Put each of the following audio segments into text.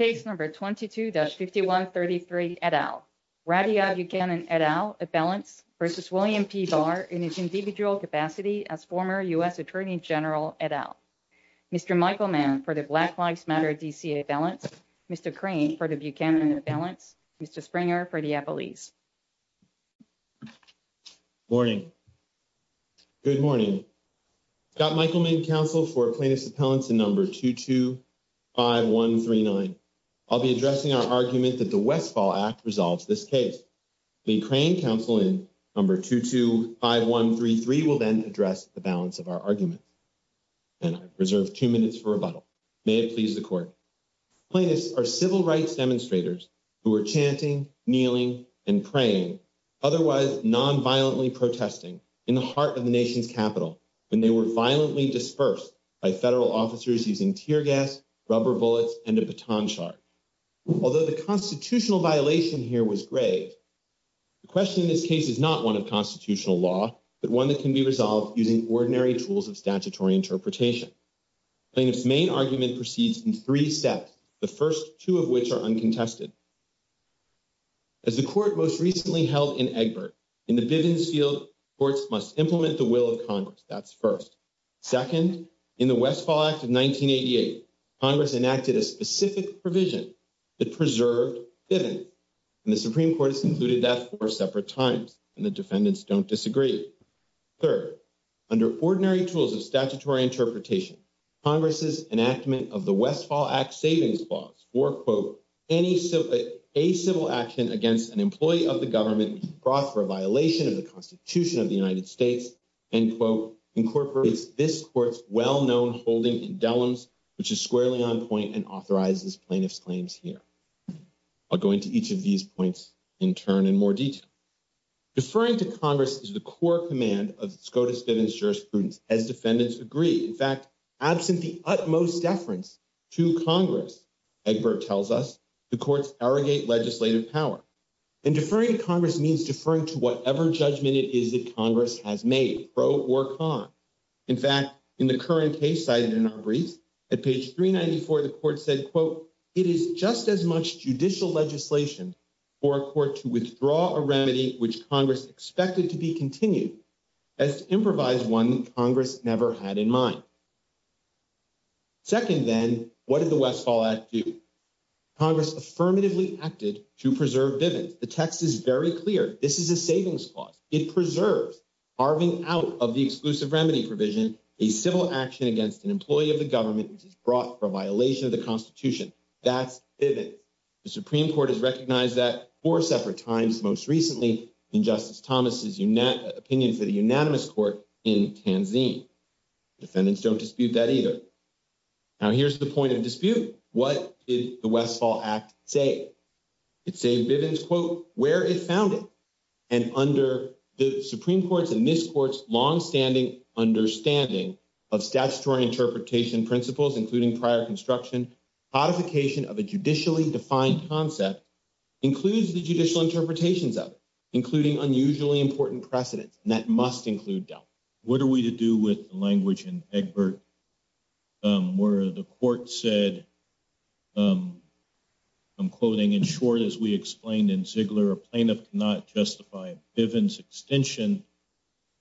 Case number 22-5133 et al. Radhia Buchanan et al, appellants versus William P. Barr in his individual capacity as former U.S. Attorney General et al. Mr. Michael Mann for the Black Lives Matter D.C. appellants. Mr. Crane for the Buchanan appellants. Mr. Springer for the appellees. Morning. Good morning. Scott Michael Mann, counsel for plaintiff's appellants in number 22-5139. I'll be addressing our argument that the Westfall Act resolves this case. The Crane counsel in number 22-5133 will then address the balance of our argument. And I reserve two minutes for rebuttal. May it please the court. Plaintiffs are civil rights demonstrators who are chanting, kneeling, and praying, otherwise nonviolently protesting in the heart of the nation's capital when they were violently dispersed by federal officers using tear gas, rubber bullets, and a baton charge. Although the constitutional violation here was grave, the question in this case is not one of constitutional law, but one that can be resolved using ordinary tools of statutory interpretation. Plaintiff's main argument proceeds in three steps, the first two of which are uncontested. As the court most recently held in Egbert, in the Bivens field, courts must implement the will of Congress. That's first. Second, in the Westfall Act of 1988, Congress enacted a specific provision that preserved Bivens, and the Supreme Court has concluded that four separate times, and the defendants don't disagree. Third, under ordinary tools of statutory interpretation, Congress's enactment of the Westfall Act savings clause for, quote, any civil action against an employee of the government brought for a violation of the Constitution of the United States, end quote, incorporates this court's well-known holding in Dellums, which is squarely on point and authorizes plaintiff's claims here. I'll go into each of these points in turn in more detail. Deferring to Congress is the core command of SCOTUS Bivens jurisprudence as defendants agree. In fact, absent the utmost deference to Congress, Egbert tells us, the courts pro or con. In fact, in the current case cited in our briefs, at page 394, the court said, quote, it is just as much judicial legislation for a court to withdraw a remedy which Congress expected to be continued as to improvise one that Congress never had in mind. Second, then, what did the Westfall Act do? Congress affirmatively acted to preserve Bivens. The text is very clear. This is a savings clause. It preserves, arving out of the exclusive remedy provision, a civil action against an employee of the government which is brought for a violation of the Constitution. That's Bivens. The Supreme Court has recognized that four separate times, most recently in Justice Thomas's opinion for the unanimous court in Tanzine. Defendants don't dispute that either. Now, here's the point of dispute. What did the Westfall Act say? It saved Bivens, quote, where it found it. And under the Supreme Court's and this court's longstanding understanding of statutory interpretation principles, including prior construction, codification of a judicially defined concept includes the judicial interpretations of it, including unusually important precedents, and that must include doubt. What are we to do with short, as we explained in Ziegler, a plaintiff cannot justify Bivens extension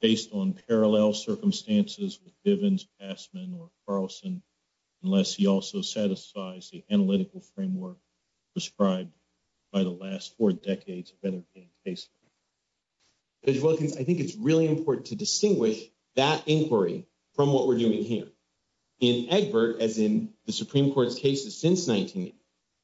based on parallel circumstances with Bivens, Passman, or Carlson unless he also satisfies the analytical framework prescribed by the last four decades of better case law. Judge Wilkins, I think it's really important to distinguish that inquiry from what we're doing here. In Egbert, as in the Supreme Court's cases since 1980,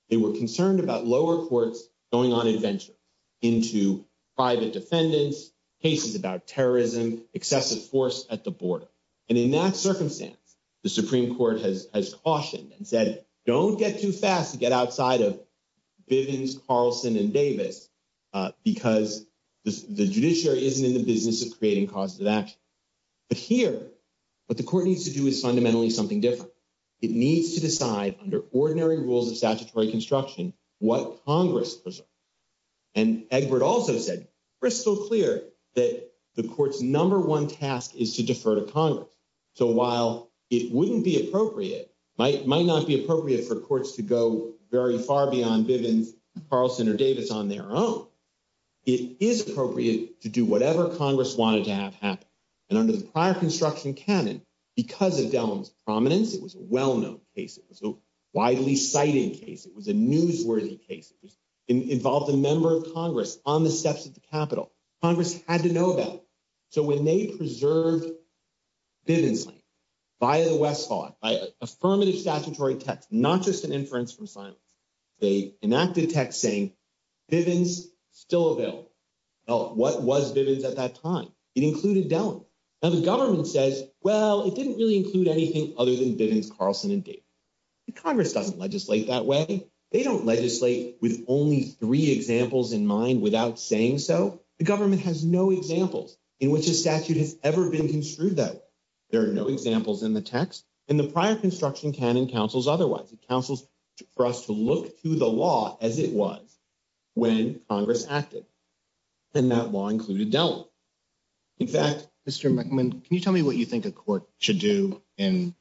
they were concerned about lower courts going on adventure into private defendants, cases about terrorism, excessive force at the border. And in that circumstance, the Supreme Court has cautioned and said, don't get too fast to get outside of Bivens, Carlson, and Davis, because the judiciary isn't in the business of creating causes of action. But here, what the court needs to do is fundamentally something different. It needs to decide under ordinary rules of statutory construction what Congress preserves. And Egbert also said crystal clear that the court's number one task is to defer to Congress. So while it wouldn't be appropriate, might not be appropriate for courts to go very far beyond Bivens, Carlson, or Davis on their own, it is appropriate to do whatever Congress wanted to have happen. And under the prior construction canon, because of Dellum's prominence, it was a well-known case. It was a widely cited case. It was a newsworthy case. It involved a member of Congress on the steps of the Capitol. Congress had to know about it. So when they preserved Bivens land via the West Hall, by affirmative statutory text, not just an inference from silence, they enacted text saying, Bivens still available. Well, what was Bivens at that time? It included Dellum. Now the government says, well, it didn't really include anything other than Bivens, Carlson, and Davis. Congress doesn't legislate that way. They don't legislate with only three examples in mind without saying so. The government has no examples in which a statute has ever been construed that way. There are no examples in the text, and the prior construction canon counsels otherwise. It counsels for us to look to the law as it was when Congress acted. And that law included Dellum. In fact, Mr. McMahon, can you tell me what you think a court should do in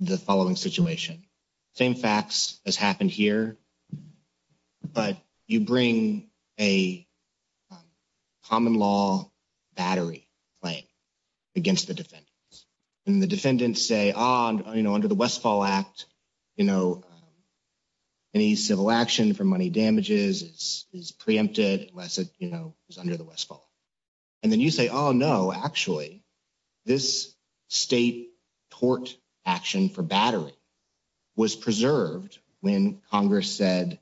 the following situation? Same facts as happened here, but you bring a common law battery claim against the defendants. And the defendants say, under the Westfall Act, any civil action for money damages is preempted unless it, you know, is under the Westfall. And then you say, oh, no, actually, this state tort action for battery was preserved when Congress said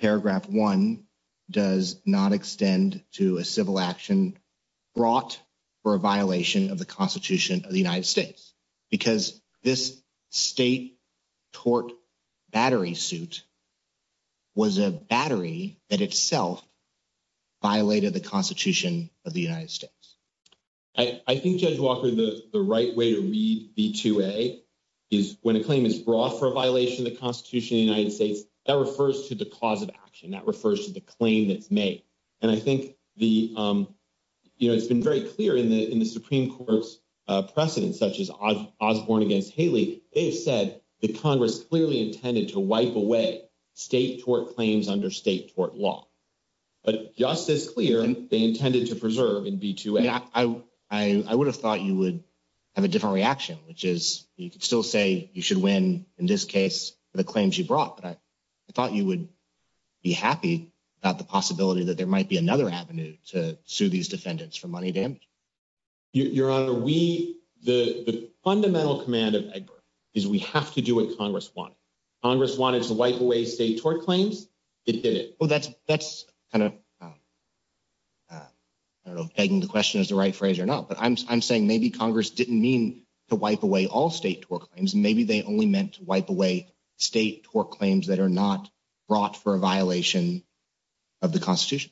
paragraph one does not extend to a civil action brought for a violation of the Constitution of the United States. Because this state tort battery suit was a battery that itself violated the Constitution of the United States. I think, Judge Walker, the right way to read B2A is when a claim is brought for a violation of the Constitution of the United States, that refers to the cause of action. That refers to the claim that's made. And I think the, you know, Osborne against Haley, they've said that Congress clearly intended to wipe away state tort claims under state tort law. But just as clear, they intended to preserve in B2A. I would have thought you would have a different reaction, which is you could still say you should win in this case for the claims you brought. But I thought you would be happy about the possibility that there was a violation of the Constitution. Well, the fundamental command of Egbert is we have to do what Congress wanted. Congress wanted to wipe away state tort claims. It did it. Well, that's kind of, I don't know if pegging the question is the right phrase or not. But I'm saying maybe Congress didn't mean to wipe away all state tort claims. Maybe they only meant to wipe away state tort claims that are not brought for a violation of the Constitution.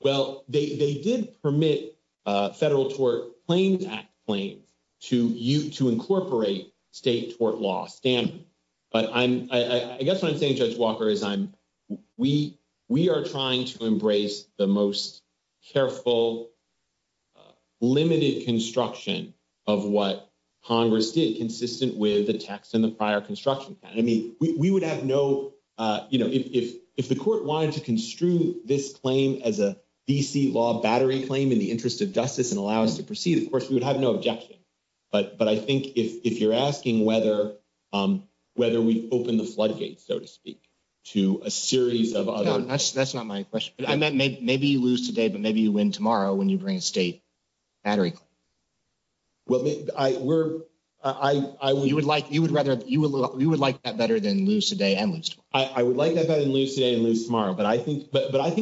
Well, they did permit Federal Tort Claims Act claims to incorporate state tort law. But I guess what I'm saying, Judge Walker, is we are trying to embrace the most careful, limited construction of what Congress did consistent with the text in the prior construction plan. I mean, we would have no, you know, if the court wanted to construe this claim as a D.C. law battery claim in the interest of justice and allow us to proceed, of course, we would have no objection. But I think if you're asking whether we've opened the floodgates, so to speak, to a series of other- That's not my question. I meant maybe you lose today, but maybe you win tomorrow when you bring a state battery claim. You would like that better than lose today and lose tomorrow. I would like that better than lose today and lose tomorrow. But I think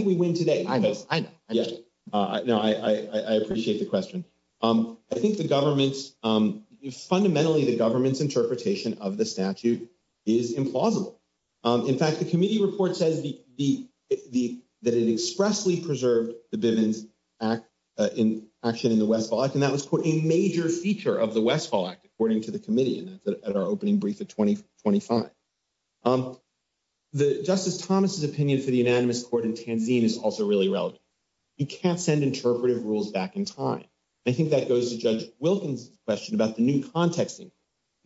we win today. I know. I know. I appreciate the question. I think fundamentally the government's interpretation of the statute is implausible. In fact, the committee report says that it expressly preserved the Bivens Act in action in the Westfall Act, and that was, quote, a major feature of the Westfall Act, according to the committee, and that's at our opening brief at 2025. The Justice Thomas's opinion for the unanimous court in Tanzania is also really relevant. You can't send interpretive rules back in time. I think that goes to Judge Wilkins' question about the new contexting.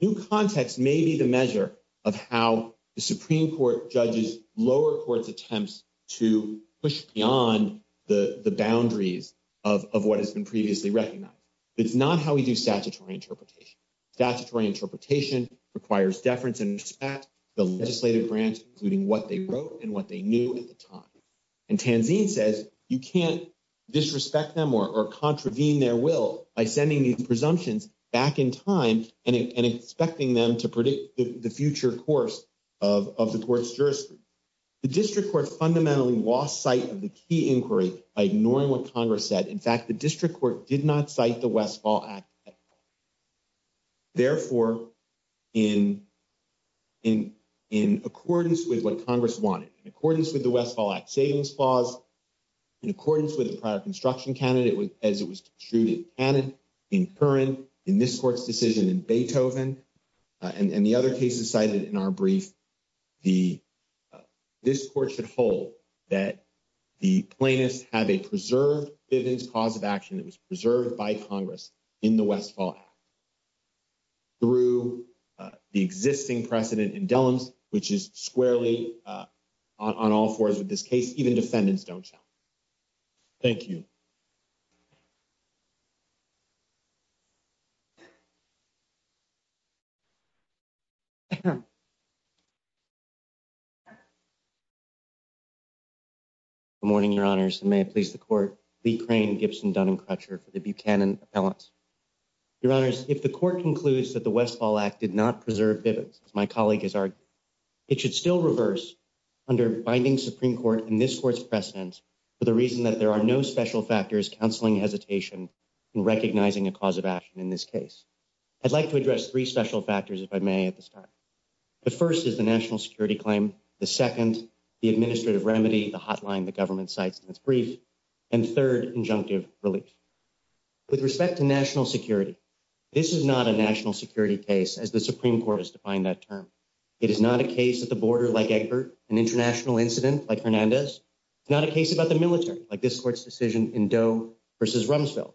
New context may be the measure of how the Supreme Court judges lower court's to push beyond the boundaries of what has been previously recognized. It's not how we do statutory interpretation. Statutory interpretation requires deference and respect to the legislative branch, including what they wrote and what they knew at the time. And Tanzania says you can't disrespect them or contravene their will by sending these presumptions back in time and expecting them to predict the future course of the court's jurisdiction. The district court fundamentally lost sight of the key inquiry by ignoring what Congress said. In fact, the district court did not cite the Westfall Act at all. Therefore, in accordance with what Congress wanted, in accordance with the Westfall Act savings clause, in accordance with the prior construction candidate as it was and the other cases cited in our brief, this court should hold that the plaintiffs have a preserved Bivens cause of action that was preserved by Congress in the Westfall Act through the existing precedent in Dellums, which is squarely on all fours with this case. Even defendants don't show. Thank you. Good morning, Your Honors, and may it please the court, Lee Crane, Gibson, Dunn and Crutcher for the Buchanan appellants. Your Honors, if the court concludes that the Westfall Act did not preserve Bivens, as my colleague has argued, it should still reverse under binding Supreme Court and this court's precedent for the reason that there are no special factors counseling hesitation in recognizing a cause of action in this case. I'd like to address three special factors, if I may, at this time. The first is the national security claim. The second, the administrative remedy, the hotline the government cites in its brief, and third, injunctive relief. With respect to national security, this is not a national security case, as the Supreme Court has defined that term. It is not a case at the border like Egbert, an international incident like Hernandez. It's not a case about the military like this court's decision in Doe versus Rumsfeld.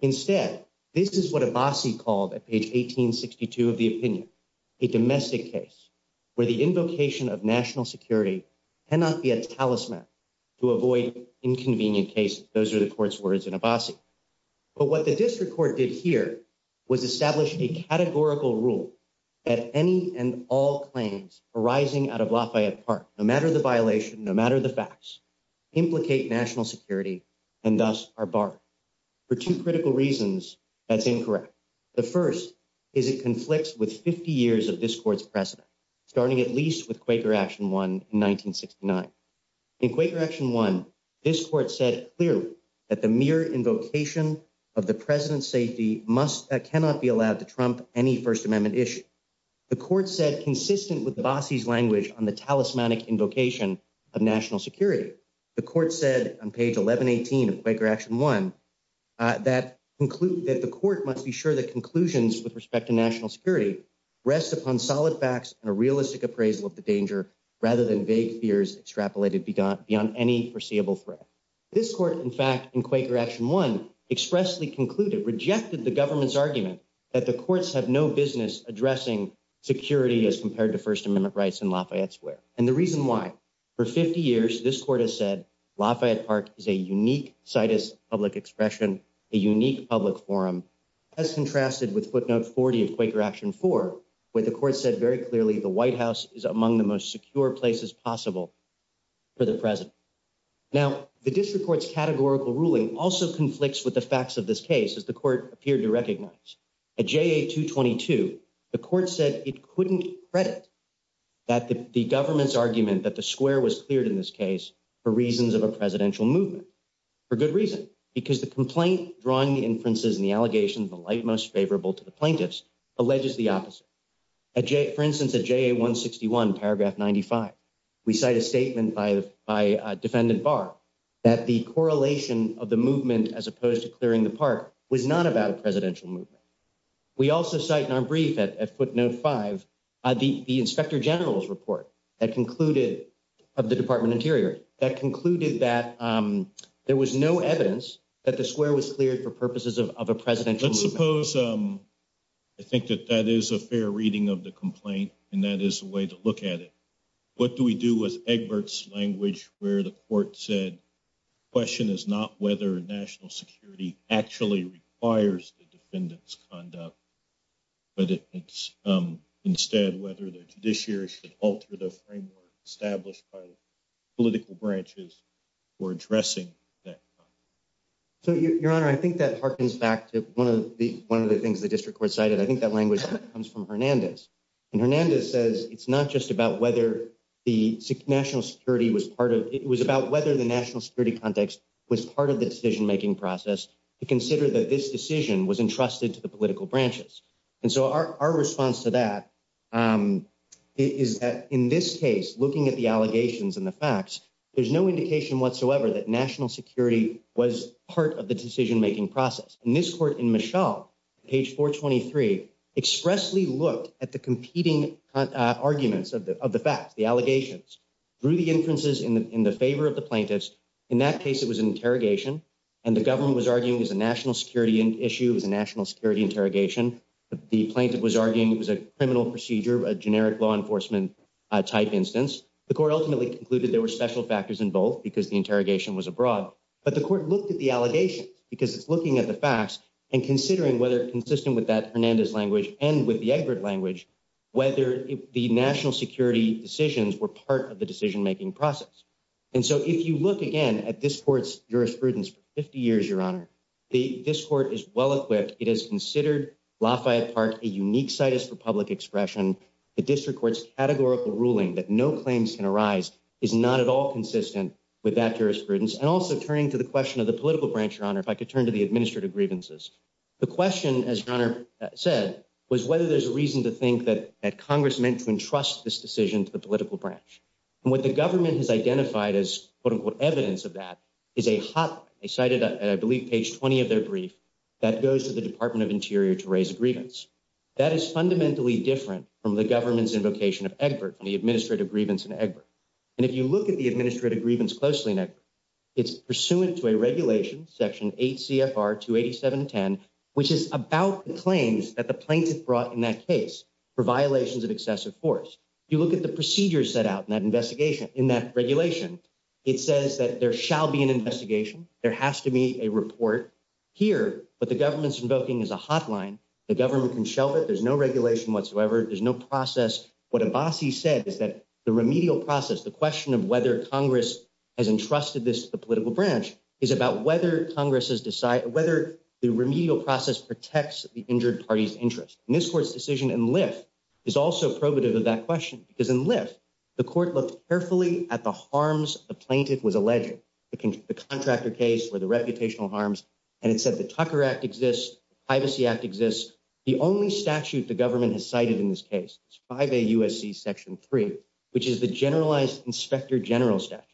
Instead, this is what Abbasi called at page 1862 of the opinion, a domestic case where the invocation of national security cannot be a talisman to avoid inconvenient cases. Those are the court's words in Abbasi. But what the district court did here was establish a categorical rule that any and all claims arising out of Lafayette Park, no matter the violation, no matter the facts, implicate national security and thus are barred. For two critical reasons, that's incorrect. The first is it conflicts with 50 years of this court's precedent, starting at least with Quaker Action 1 in 1969. In Quaker Action 1, this court said clearly that mere invocation of the president's safety cannot be allowed to trump any First Amendment issue. The court said consistent with Abbasi's language on the talismanic invocation of national security, the court said on page 1118 of Quaker Action 1 that the court must be sure that conclusions with respect to national security rest upon solid facts and a realistic appraisal of the danger rather than vague fears extrapolated beyond any foreseeable threat. This court, in fact, in Quaker Action 1 expressly concluded, rejected the government's argument that the courts have no business addressing security as compared to First Amendment rights in Lafayette Square. And the reason why, for 50 years, this court has said Lafayette Park is a unique situs public expression, a unique public forum, as contrasted with footnote 40 of Quaker Action 4, where the court said very clearly the White House is among the most secure places possible for the president. Now, the district court's categorical ruling also conflicts with the facts of this case, as the court appeared to recognize. At JA-222, the court said it couldn't credit that the government's argument that the square was cleared in this case for reasons of a presidential movement, for good reason, because the complaint drawing inferences in the allegation of the light most favorable to the plaintiffs alleges the opposite. For instance, at JA-161, paragraph 95, we cite a statement by Defendant Barr that the correlation of the movement, as opposed to clearing the park, was not about a presidential movement. We also cite in our brief at footnote 5 the inspector general's report of the Department of Interior that concluded that there was no evidence that the square was cleared for purposes of a presidential movement. Let's suppose, I think that that is a fair reading of the complaint, and that is a way to look at it. What do we do with Egbert's language where the court said the question is not whether national security actually requires the defendant's conduct, but it's instead whether the judiciary should alter the framework established by the political branches for addressing that. So, your honor, I think that harkens back to one of the things the district court cited. I think language comes from Hernandez. And Hernandez says it's not just about whether the national security was part of, it was about whether the national security context was part of the decision making process to consider that this decision was entrusted to the political branches. And so, our response to that is that in this case, looking at the allegations and the facts, there's no indication whatsoever that national security was part of the decision making process. In this court, in Mischel, page 423, expressly looked at the competing arguments of the facts, the allegations, drew the inferences in the favor of the plaintiffs. In that case, it was an interrogation, and the government was arguing it was a national security issue, it was a national security interrogation. The plaintiff was arguing it was a criminal procedure, a generic law enforcement type instance. The court ultimately concluded there were special factors involved because the interrogation was abroad. But the court looked at the allegations because it's looking at the facts and considering whether consistent with that Hernandez language and with the Egbert language, whether the national security decisions were part of the decision making process. And so, if you look again at this court's jurisprudence for 50 years, Your Honor, the, this court is well-equipped. It has considered Lafayette Park a unique situs for public expression. The district court's categorical ruling that no claims can arise is not at all consistent with that jurisprudence. And also turning to the question of the political branch, Your Honor, if I could turn to the administrative grievances. The question, as Your Honor said, was whether there's a reason to think that Congress meant to entrust this decision to the political branch. And what the government has identified as quote-unquote evidence of that is a hotline. They cited, I believe, page 20 of their brief that goes to the Department of Interior to raise a grievance. That is fundamentally different from the government's invocation of Egbert, from the administrative grievance in Egbert. And if you look at the administrative grievance closely in Egbert, it's pursuant to a regulation, section 8 CFR 28710, which is about the claims that the plaintiff brought in that case for violations of excessive force. If you look at the procedures set out in that investigation, in that regulation, it says that there shall be an investigation. There has to be a report. Here, what the government's invoking is a hotline. The government can shelve it. There's no regulation whatsoever. There's no process. What Abbasi said is that the remedial process, the question of whether Congress has entrusted this to the political branch is about whether Congress has decided, whether the remedial process protects the injured party's interest. And this court's decision in Lyft is also probative of that question because in Lyft, the court looked carefully at the harms the plaintiff was alleging, the contractor case or the reputational harms. And it said the Tucker Act exists, Privacy Act exists. The only statute the government has cited in this case is 5A USC section 3, which is the generalized inspector general statute.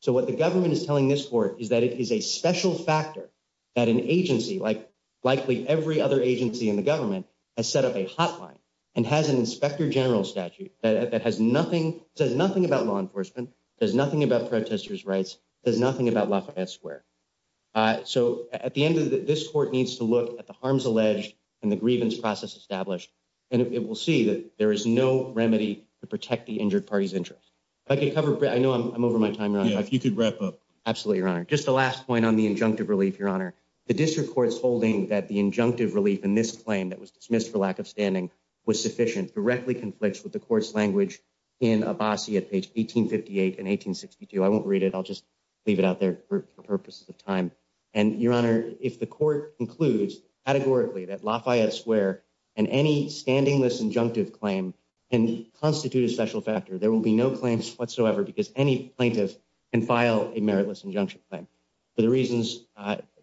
So what the government is telling this court is that it is a special factor that an agency like likely every other agency in the government has set up a hotline and has an inspector general statute that has nothing, says nothing about law enforcement, does nothing about protesters' rights, does nothing about Lafayette Square. So at the end of the, this court needs to look at the harms alleged and the grievance process established, and it will see that there is no remedy to protect the injured party's interest. If I could cover, I know I'm over my time, Your Honor. If you could wrap up. Absolutely, Your Honor. Just the last point on the injunctive relief, Your Honor. The district court's holding that the injunctive relief in this claim that was dismissed for lack of standing was sufficient, directly conflicts with the court's language in Abbasi at page 1858 and 1862. I won't read it. I'll just leave it out there for purposes of time. And Your Honor, if the court concludes categorically that Lafayette Square and any standing-less injunctive claim can constitute a special factor, there will be no claims whatsoever because any plaintiff can file a meritless injunction claim. For the reasons,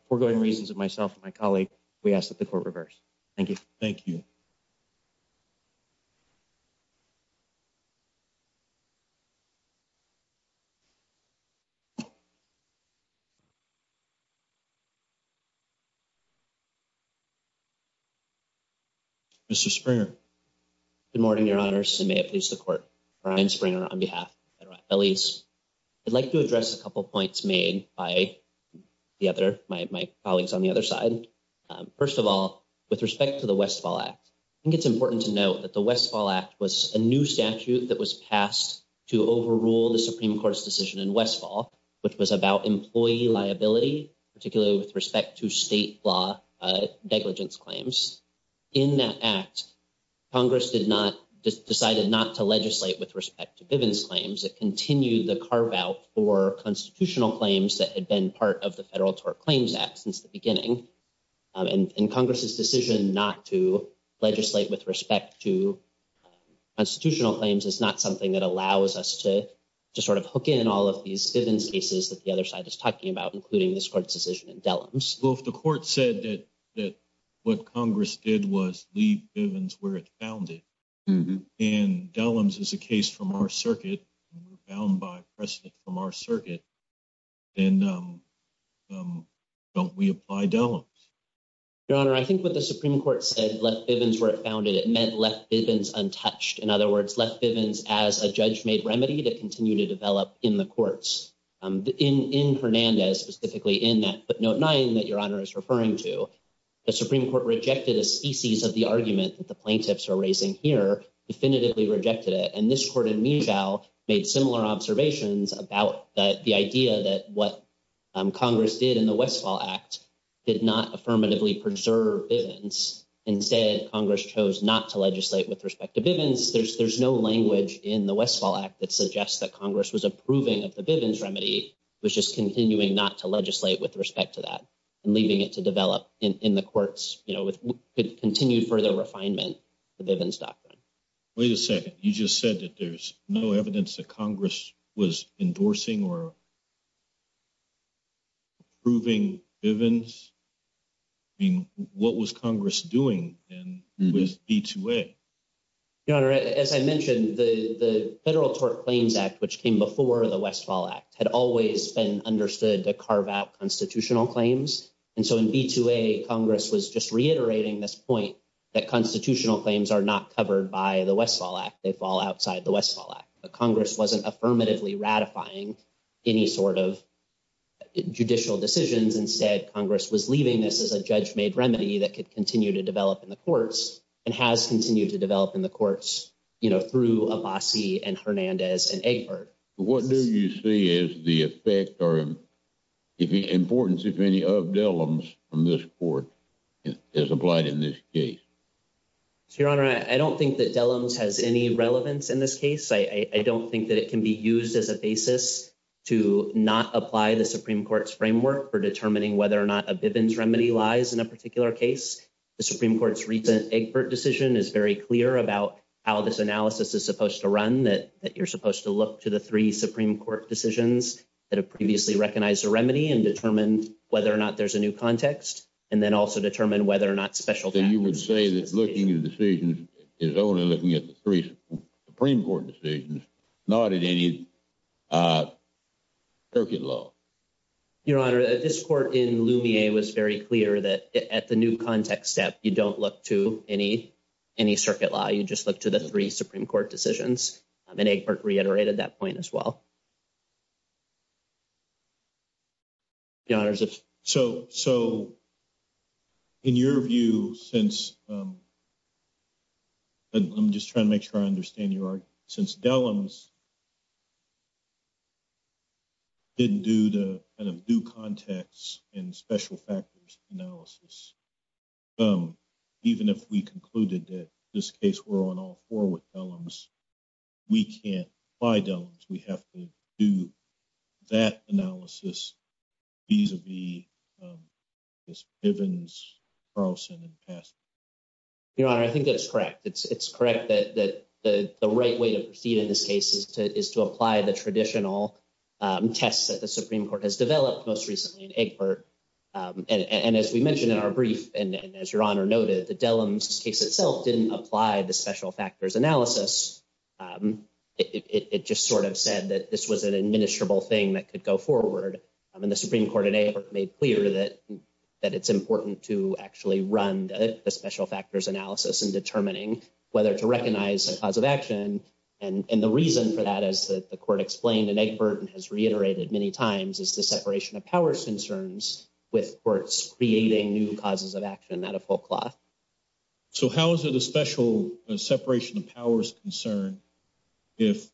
foregoing reasons of myself and my colleague, we ask that the court reverse. Thank you. Thank you. Mr. Springer. Good morning, Your Honors, and may it please the court, Brian Springer on behalf of the federal attorneys. I'd like to address a couple of points made by the other, my colleagues on the other side. First of all, with respect to the Westfall Act, I think it's important to note that the Westfall Act was a new statute that was passed to overrule the Supreme Court's decision in Westfall, which was about employee liability, particularly with respect to state law negligence claims. In that act, Congress decided not to legislate with respect to Bivens claims that continued the carve-out for constitutional claims that had been part of the Federal Tort Claims Act since the beginning. And Congress's decision not to legislate with respect to constitutional claims is not something that allows us to just sort of hook in all of these Bivens cases that the other side is talking about, including this court's decision in Dellums. Well, if the court said that what Congress did was leave Bivens where it found it, and Dellums is a case from our circuit, found by precedent from our circuit, then don't we apply Dellums? Your Honor, I think what the Supreme Court said, left Bivens where it found it, it meant left Bivens untouched. In other words, left Bivens as a judge-made remedy to continue to develop in the courts. In Hernandez, specifically in that footnote nine that Your Honor is referring to, the Supreme Court rejected a species of the definitively rejected it. And this court in Medial made similar observations about the idea that what Congress did in the Westfall Act did not affirmatively preserve Bivens. Instead, Congress chose not to legislate with respect to Bivens. There's no language in the Westfall Act that suggests that Congress was approving of the Bivens remedy, it was just continuing not to legislate with respect to that and leaving it to develop in the courts with continued further refinement of the Bivens doctrine. Wait a second, you just said that there's no evidence that Congress was endorsing or approving Bivens? I mean, what was Congress doing then with B2A? Your Honor, as I mentioned, the Federal Tort Claims Act, which came before the Westfall Act, had always been understood to carve out constitutional claims. And so in B2A, Congress was just reiterating this point that constitutional claims are not covered by the Westfall Act, they fall outside the Westfall Act. But Congress wasn't affirmatively ratifying any sort of judicial decisions. Instead, Congress was leaving this as a judge-made remedy that could continue to develop in the courts, and has continued to develop in the courts, you know, through Abbasi and Hernandez and Egbert. What do you see as the effect or importance of any of Dellums from this Court as applied in this case? Your Honor, I don't think that Dellums has any relevance in this case. I don't think that it can be used as a basis to not apply the Supreme Court's framework for determining whether or not a Bivens remedy lies in a particular case. The Supreme Court's recent Egbert decision is very clear about how this analysis is supposed to run, that you're supposed to look to the three Supreme Court decisions that have previously recognized a remedy and determine whether or not there's a new context, and then also determine whether or not special factors... Then you would say that looking at the decisions is only looking at the three Supreme Court decisions, not at any circuit law. Your Honor, this Court in Lumier was very clear that at the new context step, you don't look to any circuit law, you just look to the three Supreme Court decisions. Your Honor, is it... So in your view, since... I'm just trying to make sure I understand your argument. Since Dellums didn't do the kind of due context and special factors analysis, even if we concluded that this case were on all four with Dellums, we can't buy Dellums. We have to do that analysis vis-a-vis Bivens, Carlson, and Passman. Your Honor, I think that's correct. It's correct that the right way to proceed in this case is to apply the traditional tests that the Supreme Court has developed most recently in Egbert. And as we mentioned in our brief, and as Your Honor noted, the Dellums case itself didn't apply the special factors analysis. It just sort of said that this was an administrable thing that could go forward. And the Supreme Court in Egbert made clear that it's important to actually run the special factors analysis in determining whether to recognize a cause of action. And the reason for that is that the Court explained in Egbert and has reiterated many times is the separation of powers concerns with courts creating new causes of action out of full cloth. So how is it a special separation of powers concern if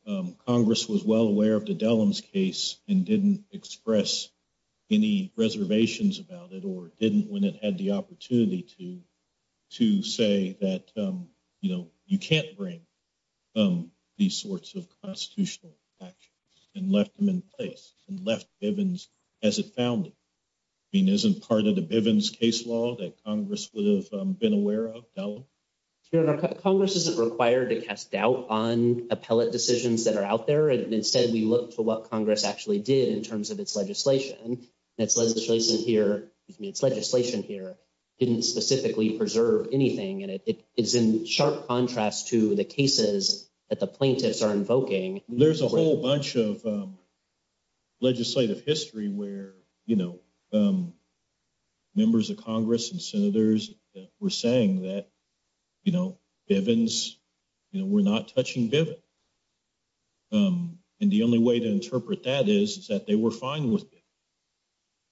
Congress was well aware of the Dellums case and didn't express any reservations about it or didn't when it had the opportunity to to say that, you know, you can't bring these sorts of constitutional actions and left them in place and left Bivens as it found it. I mean, isn't part of the Bivens case law that Congress would have been aware of, Dellum? Your Honor, Congress isn't required to cast doubt on appellate decisions that are out there. Instead, we look to what Congress actually did in terms of its legislation. Its legislation here didn't specifically preserve anything. And it is in sharp contrast to the cases that the plaintiffs are invoking. There's a whole bunch of legislative history where, you know, members of Congress and senators were saying that, you know, Bivens, you know, we're not touching Bivens. And the only way to interpret that is that they were fine with it.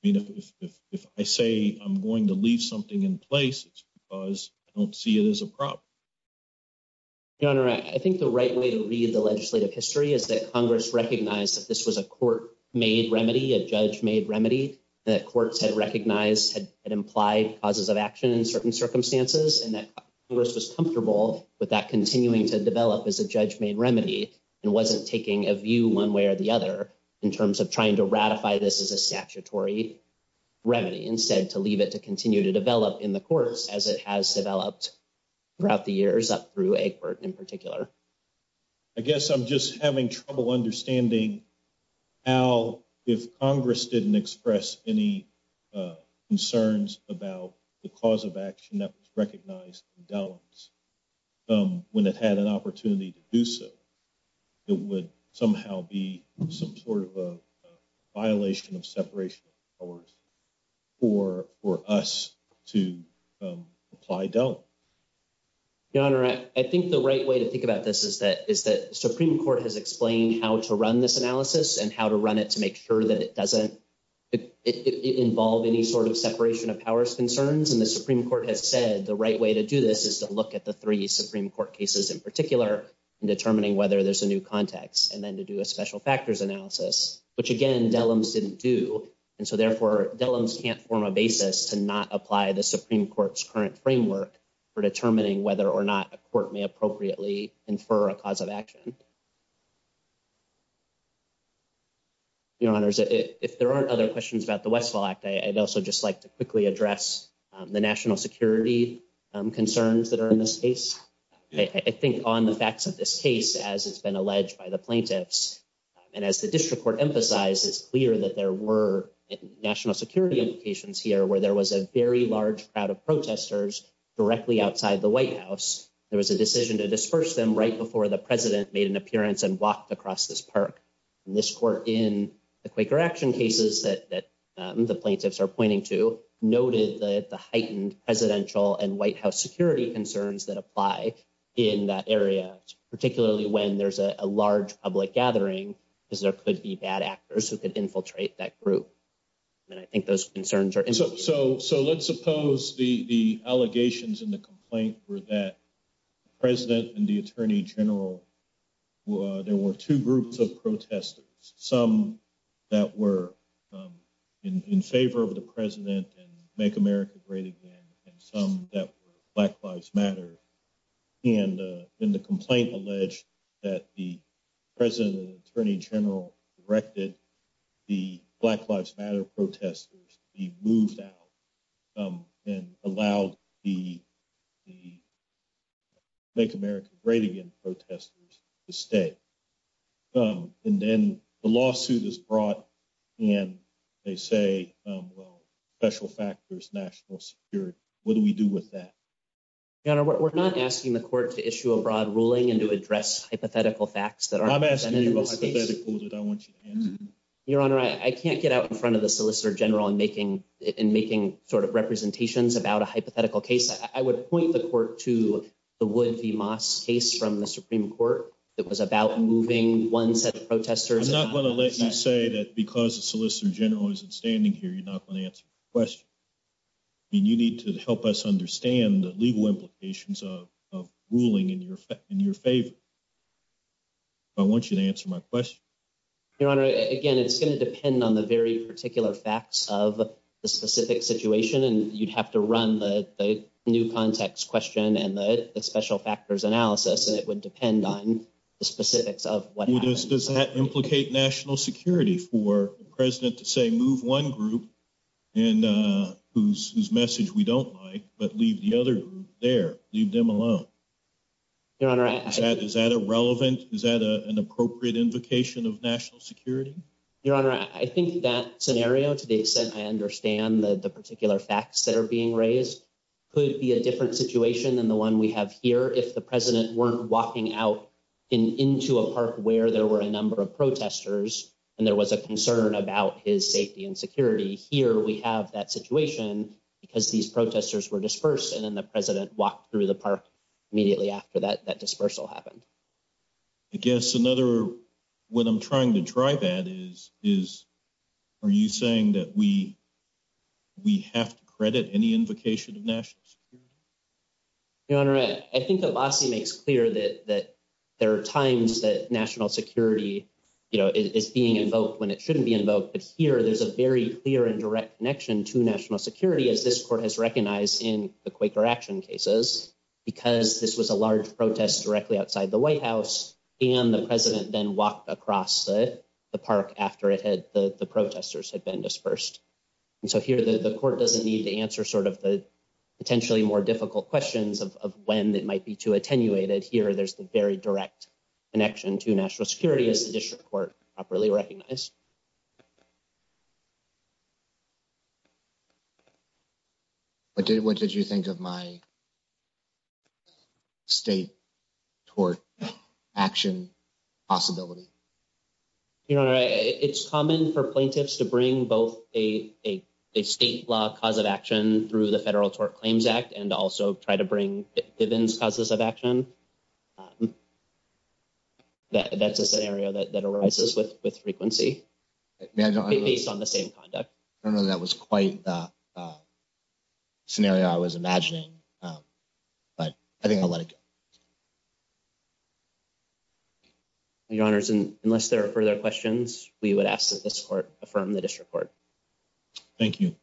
I mean, if I say I'm going to leave something in place, it's because I don't see it as a problem. Your Honor, I think the right way to read the legislative history is Congress recognized that this was a court-made remedy, a judge-made remedy, that courts had recognized and implied causes of action in certain circumstances, and that Congress was comfortable with that continuing to develop as a judge-made remedy and wasn't taking a view one way or the other in terms of trying to ratify this as a statutory remedy. Instead, to leave it to continue to develop in the courts as it has developed throughout the years, up through Egbert in particular. I guess I'm just having trouble understanding how, if Congress didn't express any concerns about the cause of action that was recognized in Dellums when it had an opportunity to do so, it would somehow be some sort of a violation of separation of powers for us to apply Dellum. Your Honor, I think the right way to think about this is that Supreme Court has explained how to run this analysis and how to run it to make sure that it doesn't involve any sort of separation of powers concerns. And the Supreme Court has said the right way to do this is to look at the three Supreme Court cases in particular in determining whether there's a new context, and then to do a special factors analysis, which again Dellums didn't do. And so therefore, Dellums can't form a basis to not apply the Supreme Court's current framework for determining whether or not a court may appropriately infer a cause of action. Your Honors, if there aren't other questions about the Westfall Act, I'd also just like to quickly address the national security concerns that are in this case. I think on the facts of this case, as it's been alleged by the plaintiffs, and as the district court emphasized, it's clear that there were national security implications here where there was a very large crowd of protesters directly outside the White House. There was a decision to disperse them right before the president made an appearance and walked across this park. And this court in the Quaker action cases that the plaintiffs are pointing to noted that the heightened presidential and White House security concerns that apply in that area, particularly when there's a large public gathering, is there could be bad actors who could infiltrate that group. And I think those concerns are... So let's suppose the allegations in the complaint were that the president and the attorney general, there were two groups of protesters, some that were in favor of the president and make America great again, and some that were Black Lives Matter. And in the complaint alleged that the president and attorney general directed the Black Lives Matter protesters to be moved out and allowed the make America great again protesters to stay. And then the lawsuit is brought and they say, well, special factors, national security, what do we do with that? Your Honor, we're not asking the court to issue a broad ruling and to address hypothetical facts that are... I'm asking you a hypothetical that I want you to answer. Your Honor, I can't get out in front of the solicitor general and making sort of representations about a hypothetical case. I would point the court to the Wood v. Moss case from the Supreme Court that was about moving one set of protesters... I'm not going to let you say that because the solicitor general isn't standing here. You're not going to answer the question. I mean, you need to help us understand the legal implications of ruling in your favor. I want you to answer my question. Your Honor, again, it's going to depend on the very particular facts of the specific situation, and you'd have to run the new context question and the special factors analysis, and it would depend on the specifics of what happens. Does that implicate national security for the president to say, move one group and whose message we don't like, but leave the other group there, leave them alone? Your Honor, I... Is that irrelevant? Is that an appropriate invocation of national security? Your Honor, I think that scenario, to the extent I understand the particular facts that are being raised, could be a different situation than the one we have here if the president weren't walking out into a park where there were a number of protesters and there was a concern about his safety and security. Here, we have that situation because these protesters were dispersed, and then the president walked through the park immediately after that dispersal happened. I guess another what I'm trying to drive at is, are you saying that we have to credit any invocation of national security? Your Honor, I think the lawsuit makes clear that there are times that national security is being invoked when it shouldn't be invoked, but here, there's a very clear and direct connection to national security, as this court has recognized in the Quaker action cases, because this was a large protest directly outside the White House, and the president then walked across the park after the protesters had been dispersed. And so here, the court doesn't need to answer sort of the potentially more difficult questions of when that might be too attenuated. Here, there's the very direct connection to national security, as this court properly recognized. What did you think of my state tort action possibility? Your Honor, it's common for plaintiffs to bring both a state law cause of action through the Tort Claims Act and also try to bring Diven's causes of action. That's a scenario that arises with frequency based on the same conduct. I don't know if that was quite the scenario I was imagining, but I think I'll let it go. Your Honors, unless there are further questions, we would ask that this court affirm the district court. Thank you.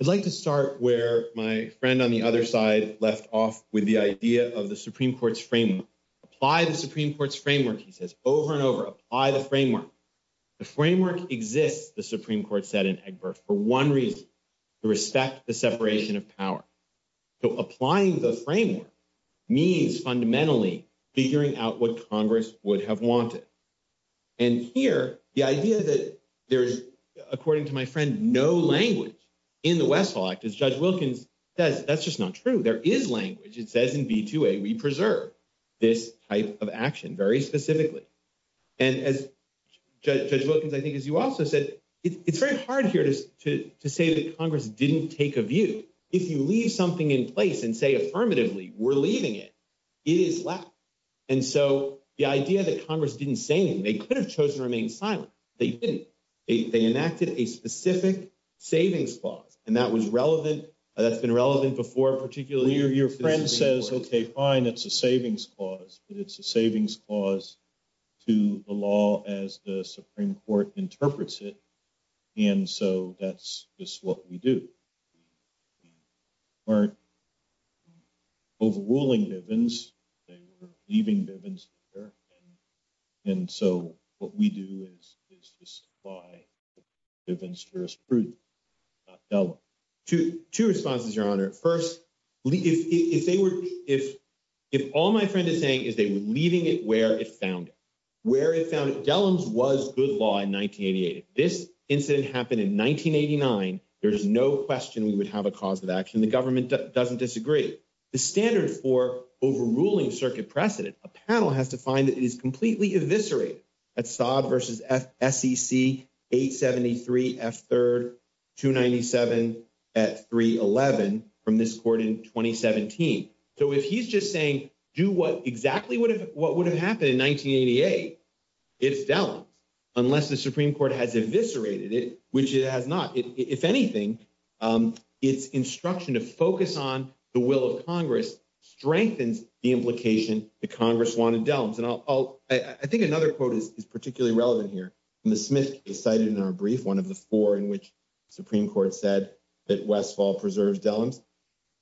I'd like to start where my friend on the other side left off with the idea of the Supreme Court's framework. Apply the Supreme Court's framework, he says, over and over. Apply the framework. The framework exists, the Supreme Court said in Egbert, for one reason, to respect the separation of power. So applying the framework means fundamentally figuring out what Congress would have wanted. And here, the idea that there's, according to my friend, no language in the Westphal Act, as Judge Wilkins says, that's just not true. There is language. It says we preserve this type of action very specifically. And as Judge Wilkins, I think as you also said, it's very hard here to say that Congress didn't take a view. If you leave something in place and say affirmatively, we're leaving it, it is left. And so the idea that Congress didn't say anything, they could have chosen to remain silent. They didn't. They enacted a specific savings clause, and that was relevant. That's been relevant before, particularly... Your friend says, okay, fine, it's a savings clause, but it's a savings clause to the law as the Supreme Court interprets it. And so that's just what we do. We weren't overruling Bivens. They were leaving Bivens there. And so what we do is justify Bivens as proof. Two responses, Your Honor. First, if all my friend is saying is they were leaving it where it found it. Where it found it. Dellums was good law in 1988. If this incident happened in 1989, there's no question we would have a cause of action. The government doesn't disagree. The standard for overruling circuit precedent, a panel has to find that it is completely eviscerated at Saab versus SEC 873 F3, 297 at 311 from this court in 2017. So if he's just saying, do exactly what would have happened in 1988, it's Dellums, unless the Supreme Court has eviscerated it, which it has not. If anything, it's instruction to focus on the will of Congress strengthens the implication that Congress wanted Dellums. And I'll, I think another quote is particularly relevant here. In the Smith case cited in our brief, one of the four in which Supreme Court said that Westfall preserves Dellums.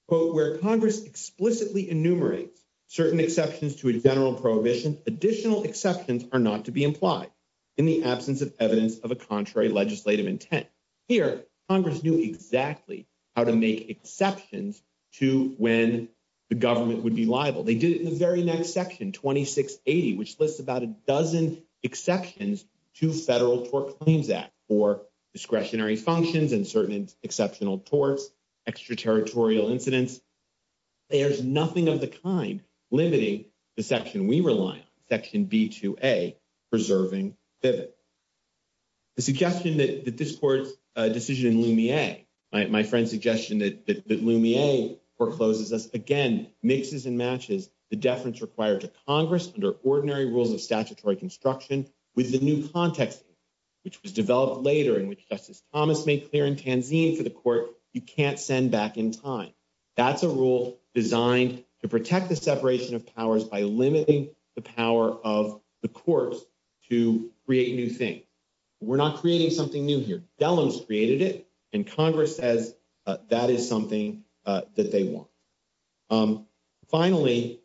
Quote, where Congress explicitly enumerates certain exceptions to a general prohibition, additional exceptions are not to be implied in the absence of evidence of a contrary legislative intent. Here, Congress knew exactly how to make exceptions to when the government would be liable. They did it in the very next section, 2680, which lists about a dozen exceptions to Federal Tort Claims Act for discretionary functions and certain exceptional torts, extraterritorial incidents. There's nothing of the kind limiting the section we rely on, section B2A, preserving pivot. The suggestion that this court's decision in Lumiere, my friend's suggestion that Lumiere forecloses us again, mixes and matches the deference required to Congress under ordinary rules of statutory construction with the new context, which was developed later in which Justice Thomas made clear in Tanzine for the court, you can't send back in time. That's a rule designed to protect the separation of powers by limiting the power of the courts to create new things. We're not creating something new here. Delos created it and Congress says that is something that they want. Finally,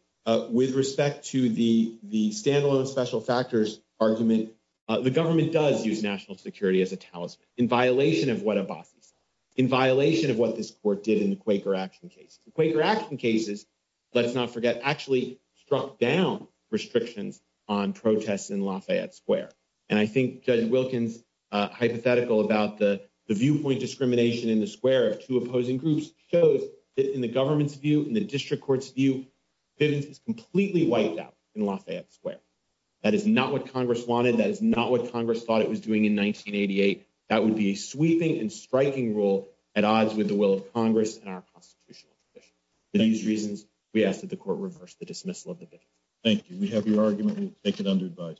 with respect to the standalone special factors argument, the government does use national security as a talisman in violation of what Abbasi said, in violation of what this court did in the Quaker action case. The Quaker action cases, let's not forget, actually struck down restrictions on protests in Lafayette Square. I think Judge Wilkins' hypothetical about the viewpoint discrimination in the square of two opposing groups shows that in the government's view, in the district court's view, pivots is completely wiped out in Lafayette Square. That is not what Congress wanted. That is not what Congress thought it was doing in 1988. That would be a sweeping and striking rule at odds with the we ask that the court reverse the dismissal of the bid. Thank you. We have your argument.